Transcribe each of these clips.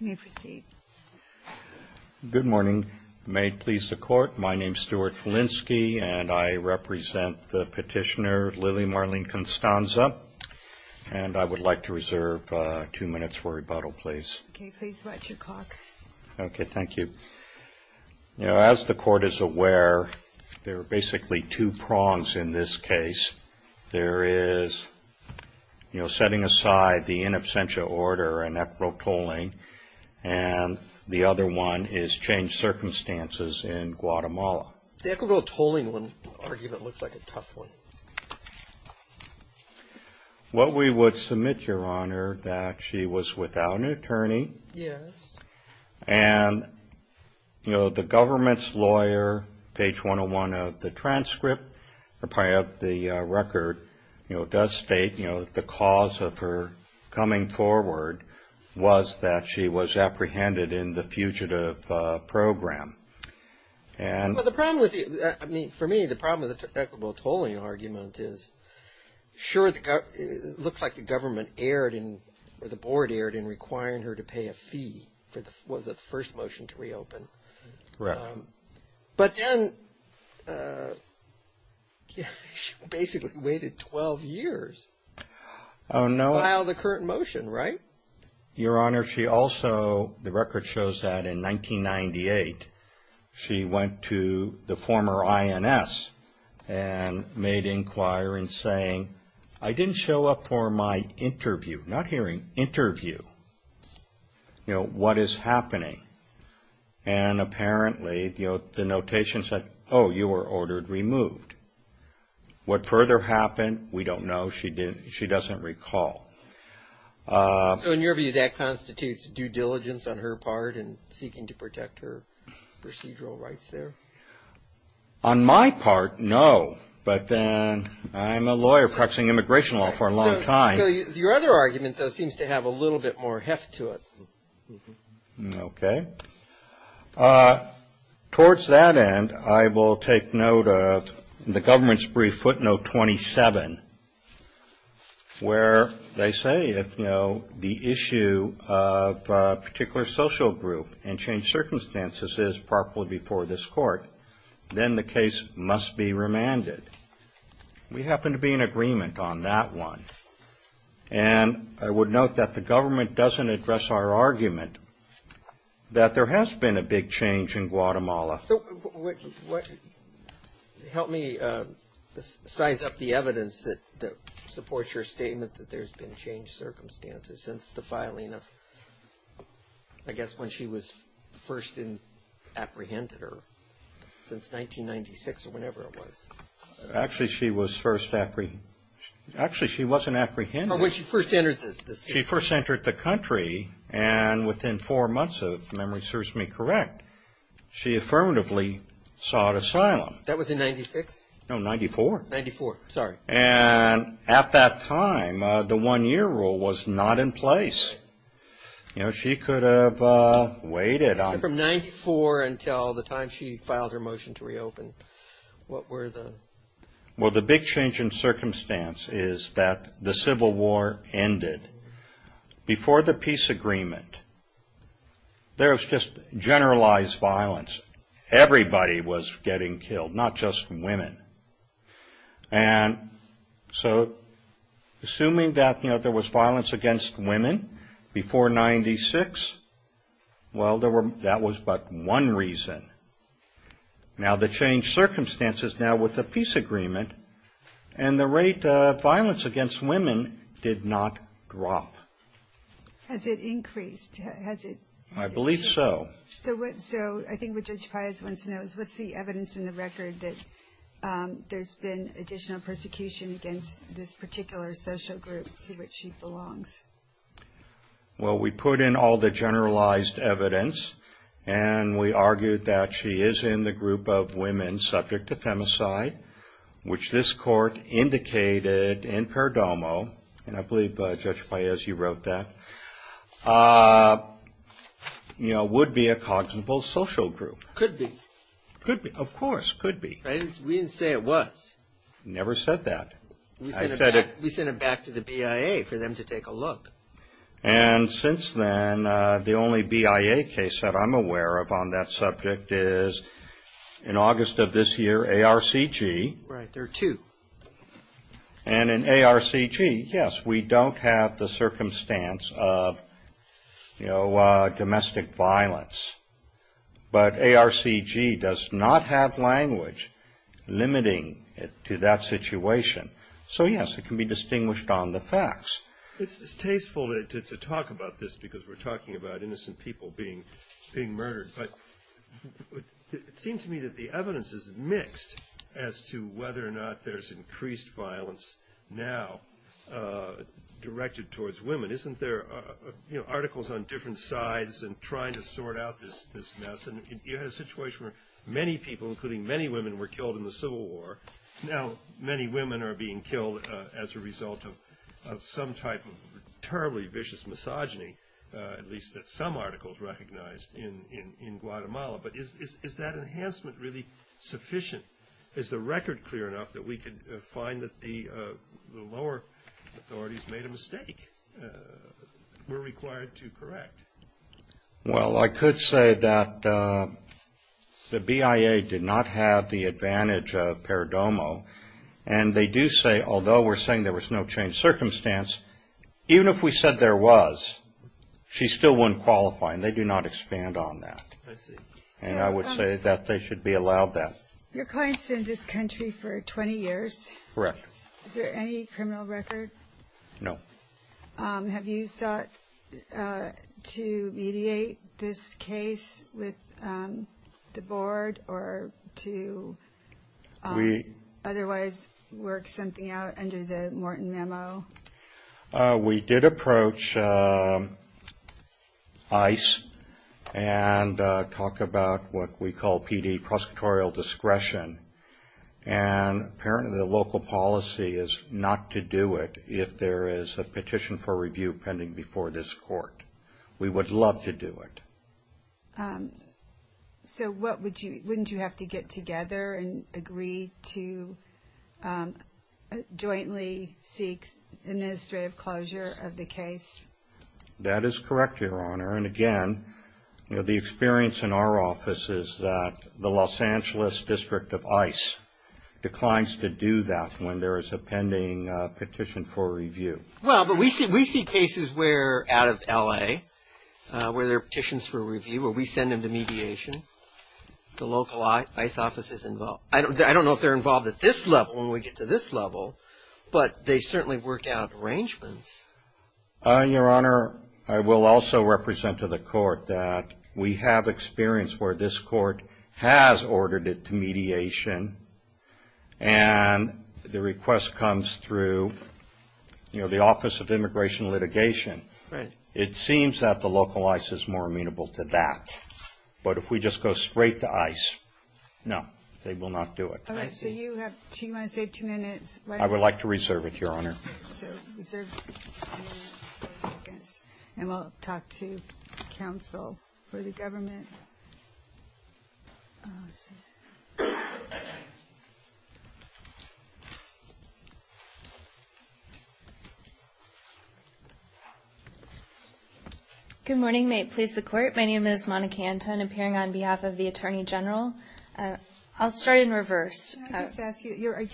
You may proceed. Good morning. May it please the Court, my name is Stuart Felinski and I represent the petitioner Lily Marlene Constanza. And I would like to reserve two minutes for rebuttal, please. Okay, please write your clock. Okay, thank you. You know, as the Court is aware, there are basically two prongs in this case. There is, you know, setting aside the in absentia order and equitable tolling, and the other one is changed circumstances in Guatemala. The equitable tolling argument looks like a tough one. What we would submit, Your Honor, that she was without an attorney. Yes. And, you know, the government's lawyer, page 101 of the transcript, or probably of the record, you know, does state, you know, that the cause of her coming forward was that she was apprehended in the fugitive program. Well, the problem with it, I mean, for me, the problem with the equitable tolling argument is, sure, it looks like the government erred in, or the board erred in requiring her to pay a fee for the first motion to reopen. Correct. But then she basically waited 12 years to file the current motion, right? Your Honor, she also, the record shows that in 1998, she went to the former INS and made inquire and saying, I didn't show up for my interview, not hearing, interview. You know, what is happening? And apparently, you know, the notation said, oh, you were ordered removed. What further happened, we don't know. She doesn't recall. So in your view, that constitutes due diligence on her part in seeking to protect her procedural rights there? On my part, no. But then I'm a lawyer practicing immigration law for a long time. So your other argument, though, seems to have a little bit more heft to it. Okay. Towards that end, I will take note of the government's brief footnote 27, where they say, if, you know, the issue of a particular social group and changed circumstances is properly before this court, then the case must be remanded. We happen to be in agreement on that one. And I would note that the government doesn't address our argument that there has been a big change in Guatemala. So help me size up the evidence that supports your statement that there's been changed circumstances since the filing of, I guess, when she was first apprehended or since 1996 or whenever it was. Actually, she was first apprehended. Actually, she wasn't apprehended. Oh, when she first entered the city. She first entered the country, and within four months, if memory serves me correct, she affirmatively sought asylum. That was in 96? No, 94. 94, sorry. And at that time, the one-year rule was not in place. You know, she could have waited. From 94 until the time she filed her motion to reopen, what were the? Well, the big change in circumstance is that the Civil War ended. Before the peace agreement, there was just generalized violence. Everybody was getting killed, not just women. And so assuming that, you know, there was violence against women before 96, well, that was but one reason. Now, the changed circumstances now with the peace agreement and the rate of violence against women did not drop. Has it increased? I believe so. So I think what Judge Paez wants to know is what's the evidence in the record that there's been additional persecution against this particular social group to which she belongs? Well, we put in all the generalized evidence, and we argued that she is in the group of women subject to femicide, which this court indicated in Perdomo, and I believe Judge Paez, you wrote that, you know, would be a cognitive social group. Could be. Could be. Of course, could be. We didn't say it was. Never said that. We sent it back to the BIA for them to take a look. And since then, the only BIA case that I'm aware of on that subject is in August of this year, ARCG. Right. There are two. And in ARCG, yes, we don't have the circumstance of, you know, domestic violence. But ARCG does not have language limiting it to that situation. So, yes, it can be distinguished on the facts. It's tasteful to talk about this because we're talking about innocent people being murdered. But it seemed to me that the evidence is mixed as to whether or not there's increased violence now directed towards women. Isn't there, you know, articles on different sides and trying to sort out this mess? And you had a situation where many people, including many women, were killed in the Civil War. Now, many women are being killed as a result of some type of terribly vicious misogyny, at least some articles recognized in Guatemala. But is that enhancement really sufficient? Is the record clear enough that we could find that the lower authorities made a mistake? We're required to correct. Well, I could say that the BIA did not have the advantage of Paradomo. And they do say, although we're saying there was no changed circumstance, even if we said there was, she still wouldn't qualify. And they do not expand on that. And I would say that they should be allowed that. Your client's been in this country for 20 years. Correct. Is there any criminal record? No. Have you sought to mediate this case with the board or to otherwise work something out under the Morton memo? We did approach ICE and talk about what we call PD, prosecutorial discretion. And apparently the local policy is not to do it if there is a petition for review pending before this court. We would love to do it. So wouldn't you have to get together and agree to jointly seek administrative closure of the case? That is correct, Your Honor. And again, the experience in our office is that the Los Angeles District of ICE declines to do that when there is a pending petition for review. Well, but we see cases where, out of L.A., where there are petitions for review, where we send them to mediation, the local ICE office is involved. I don't know if they're involved at this level when we get to this level. But they certainly work out arrangements. Your Honor, I will also represent to the court that we have experience where this court has ordered it to mediation. And the request comes through, you know, the Office of Immigration Litigation. Right. It seems that the local ICE is more amenable to that. I would like to reserve it, Your Honor. And we'll talk to counsel for the government. Good morning. May it please the Court? My name is Monica Anton, appearing on behalf of the Attorney General. I'll start in reverse. Can I just ask you, you're a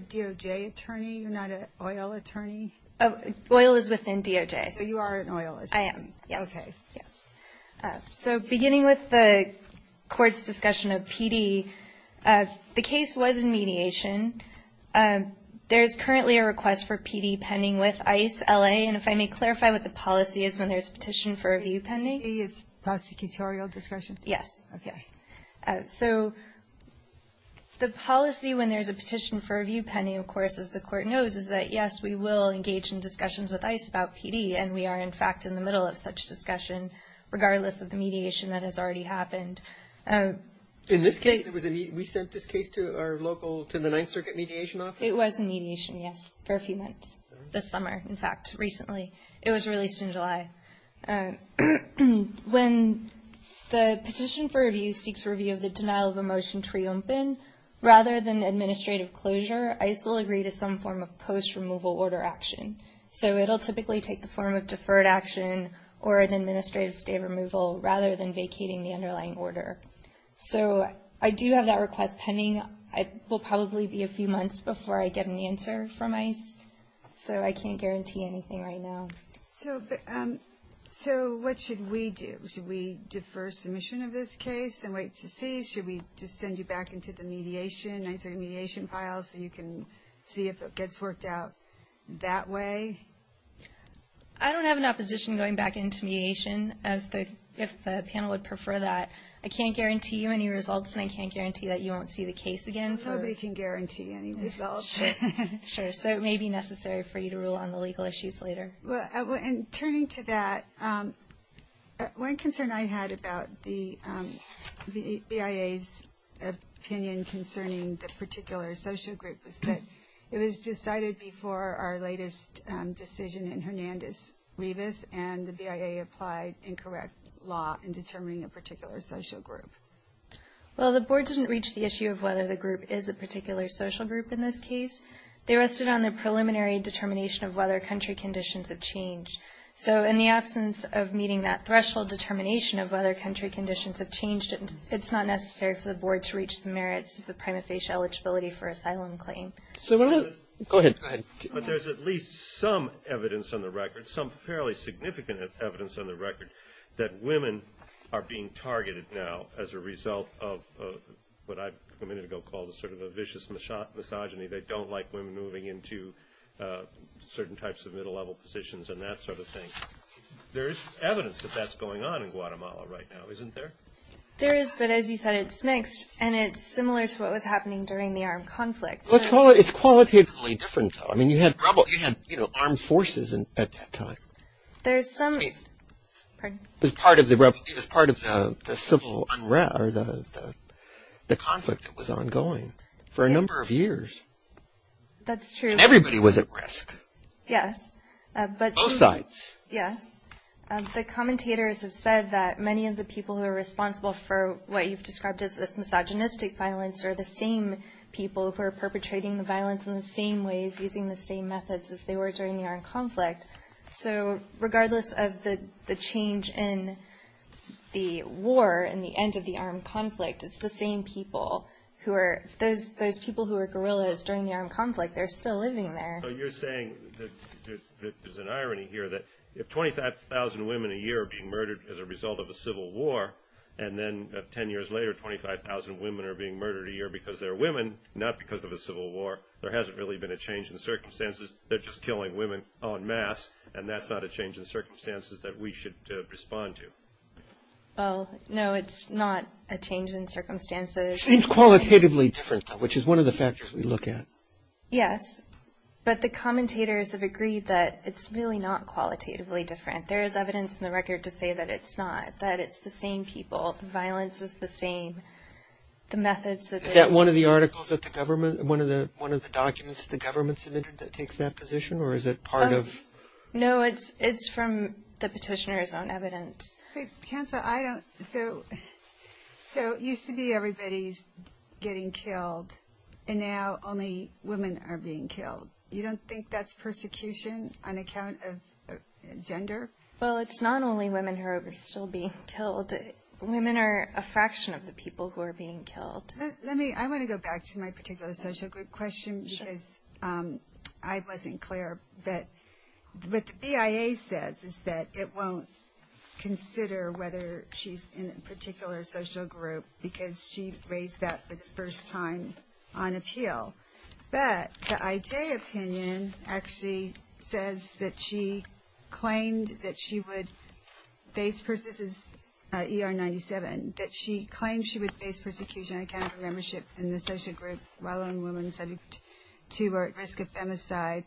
DOJ attorney, you're not an oil attorney? Oil is within DOJ. So you are an oil attorney. I am, yes. Okay. So beginning with the Court's discussion of PD, the case was in mediation. There is currently a request for PD pending with ICE L.A., and if I may clarify what the policy is when there is a petition for review pending? It's prosecutorial discretion? Yes. Okay. So the policy when there's a petition for review pending, of course, as the Court knows, is that, yes, we will engage in discussions with ICE about PD, and we are, in fact, in the middle of such discussion, regardless of the mediation that has already happened. In this case, we sent this case to our local, to the Ninth Circuit Mediation Office? It was in mediation, yes, for a few months. This summer, in fact, recently. It was released in July. When the petition for review seeks review of the denial of a motion to reopen, rather than administrative closure, ICE will agree to some form of post-removal order action. So it'll typically take the form of deferred action or an administrative stay of removal, rather than vacating the underlying order. So I do have that request pending. It will probably be a few months before I get an answer from ICE, so I can't guarantee anything right now. So what should we do? Should we defer submission of this case and wait to see? Should we just send you back into the mediation, the Ninth Circuit Mediation file, so you can see if it gets worked out that way? I don't have an opposition going back into mediation, if the panel would prefer that. I can't guarantee you any results, and I can't guarantee that you won't see the case again. Nobody can guarantee any results. Sure, so it may be necessary for you to rule on the legal issues later. Turning to that, one concern I had about the BIA's opinion concerning the particular social group was that it was decided before our latest decision in Hernandez-Rivas, and the BIA applied incorrect law in determining a particular social group. Well, the Board didn't reach the issue of whether the group is a particular social group in this case. They rested on the preliminary determination of whether country conditions have changed. So in the absence of meeting that threshold determination of whether country conditions have changed, it's not necessary for the Board to reach the merits of the prima facie eligibility for asylum claim. Go ahead. But there's at least some evidence on the record, some fairly significant evidence on the record, that women are being targeted now as a result of what I a minute ago called sort of a vicious misogyny. They don't like women moving into certain types of middle-level positions and that sort of thing. There is evidence that that's going on in Guatemala right now, isn't there? There is, but as you said, it's mixed, and it's similar to what was happening during the armed conflict. It's qualitatively different, though. I mean, you had armed forces at that time. There's some – I mean, it was part of the civil – or the conflict that was ongoing for a number of years. That's true. And everybody was at risk. Yes, but – Both sides. Yes. The commentators have said that many of the people who are responsible for what you've described as misogynistic violence are the same people who are perpetrating the violence in the same ways, using the same methods as they were during the armed conflict. So regardless of the change in the war and the end of the armed conflict, it's the same people who are – those people who were guerrillas during the armed conflict, they're still living there. So you're saying that there's an irony here that if 25,000 women a year are being murdered as a result of a civil war, and then 10 years later 25,000 women are being murdered a year because they're women, not because of a civil war, there hasn't really been a change in circumstances. They're just killing women en masse, and that's not a change in circumstances that we should respond to. Well, no, it's not a change in circumstances. It seems qualitatively different, which is one of the factors we look at. Yes, but the commentators have agreed that it's really not qualitatively different. There is evidence in the record to say that it's not, that it's the same people. The violence is the same. The methods that they – Is that one of the articles that the government – one of the documents that the government submitted that takes that position, or is it part of – No, it's from the petitioner's own evidence. Cancel. I don't – so it used to be everybody's getting killed, and now only women are being killed. You don't think that's persecution on account of gender? Well, it's not only women who are still being killed. Women are a fraction of the people who are being killed. Let me – I want to go back to my particular social group question because I wasn't clear. What the BIA says is that it won't consider whether she's in a particular social group because she raised that for the first time on appeal. But the IJ opinion actually says that she claimed that she would face – this is ER-97 – that she claimed she would face persecution on account of her membership in the social group while only women subject to or at risk of femicide.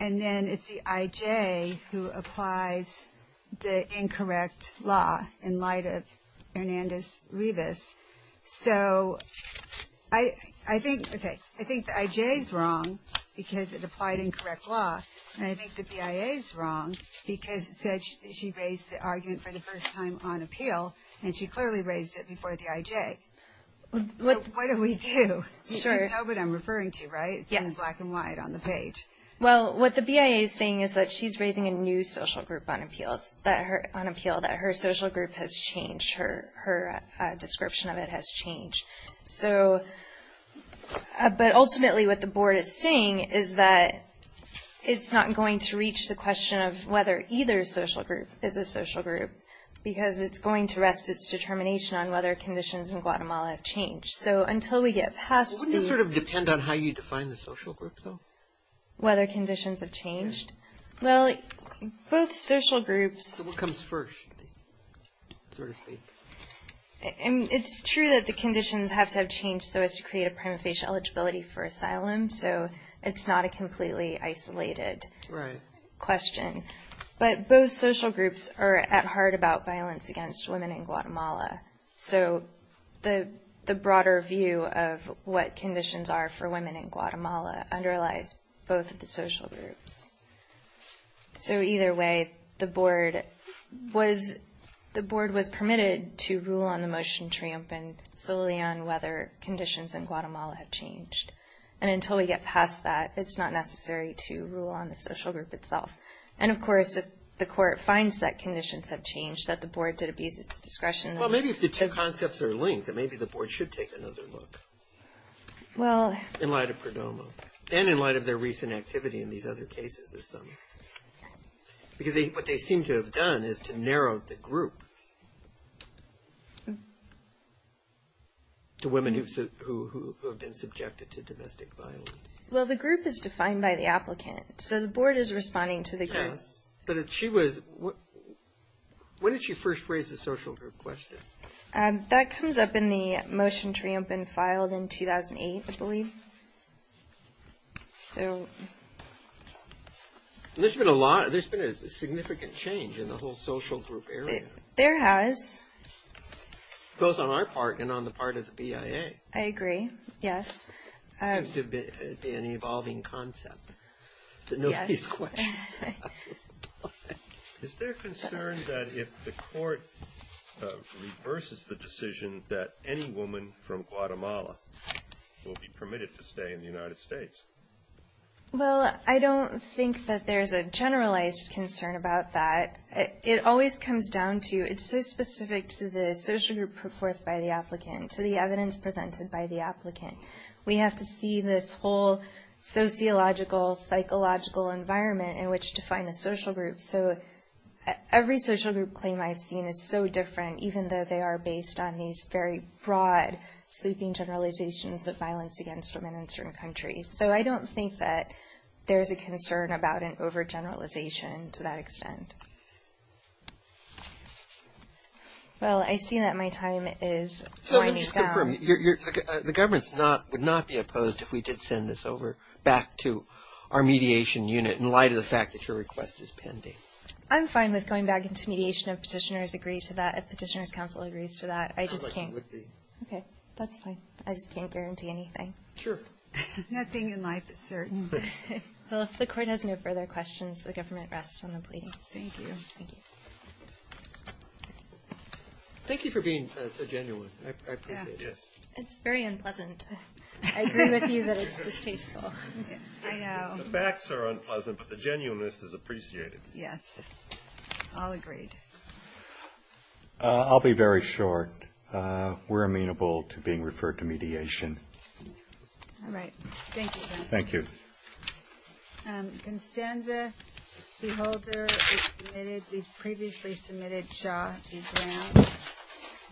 And then it's the IJ who applies the incorrect law in light of Hernandez-Rivas. So I think – okay, I think the IJ is wrong because it applied incorrect law, and I think that the IA is wrong because it said she raised the argument for the first time on appeal, and she clearly raised it before the IJ. So what do we do? You know what I'm referring to, right? It's in black and white on the page. Well, what the BIA is saying is that she's raising a new social group on appeal, that her social group has changed, her description of it has changed. So – but ultimately what the board is saying is that it's not going to reach the question of whether either social group is a social group because it's going to rest its determination on whether conditions in Guatemala have changed. So until we get past the – Wouldn't it sort of depend on how you define the social group, though? Whether conditions have changed? Well, both social groups – What comes first, so to speak? It's true that the conditions have to have changed so as to create a prima facie eligibility for asylum, so it's not a completely isolated question. But both social groups are at heart about violence against women in Guatemala. So the broader view of what conditions are for women in Guatemala underlies both of the social groups. So either way, the board was permitted to rule on the motion triumphant solely on whether conditions in Guatemala have changed. And until we get past that, it's not necessary to rule on the social group itself. And, of course, if the court finds that conditions have changed, that the board did abuse its discretion. Well, maybe if the two concepts are linked, then maybe the board should take another look. Well – In light of PRODOMA. And in light of their recent activity in these other cases of some. Because what they seem to have done is to narrow the group to women who have been subjected to domestic violence. Well, the group is defined by the applicant. So the board is responding to the group. Yes. But if she was – when did she first raise the social group question? That comes up in the motion triumphant filed in 2008, I believe. So – There's been a significant change in the whole social group area. There has. Both on our part and on the part of the BIA. I agree. Yes. It seems to be an evolving concept. Yes. Is there concern that if the court reverses the decision, that any woman from Guatemala will be permitted to stay in the United States? Well, I don't think that there's a generalized concern about that. It always comes down to – it's so specific to the social group put forth by the applicant, to the evidence presented by the applicant. We have to see this whole sociological, psychological environment in which to find the social group. So every social group claim I've seen is so different, even though they are based on these very broad sweeping generalizations of violence against women in certain countries. So I don't think that there's a concern about an overgeneralization to that extent. Well, I see that my time is running down. So just confirm. The government would not be opposed if we did send this over back to our mediation unit in light of the fact that your request is pending. I'm fine with going back into mediation if petitioners agree to that, if Petitioner's Council agrees to that. I just can't. Okay. That's fine. I just can't guarantee anything. Sure. Nothing in life is certain. Well, if the court has no further questions, the government rests on the pleading. Thank you. Thank you. Thank you for being so genuine. I appreciate it. Yes. It's very unpleasant. I agree with you that it's distasteful. I know. The facts are unpleasant, but the genuineness is appreciated. Yes. All agreed. I'll be very short. We're amenable to being referred to mediation. All right. Thank you. Thank you. Constanza Beholder, we've previously submitted Shaw these grants.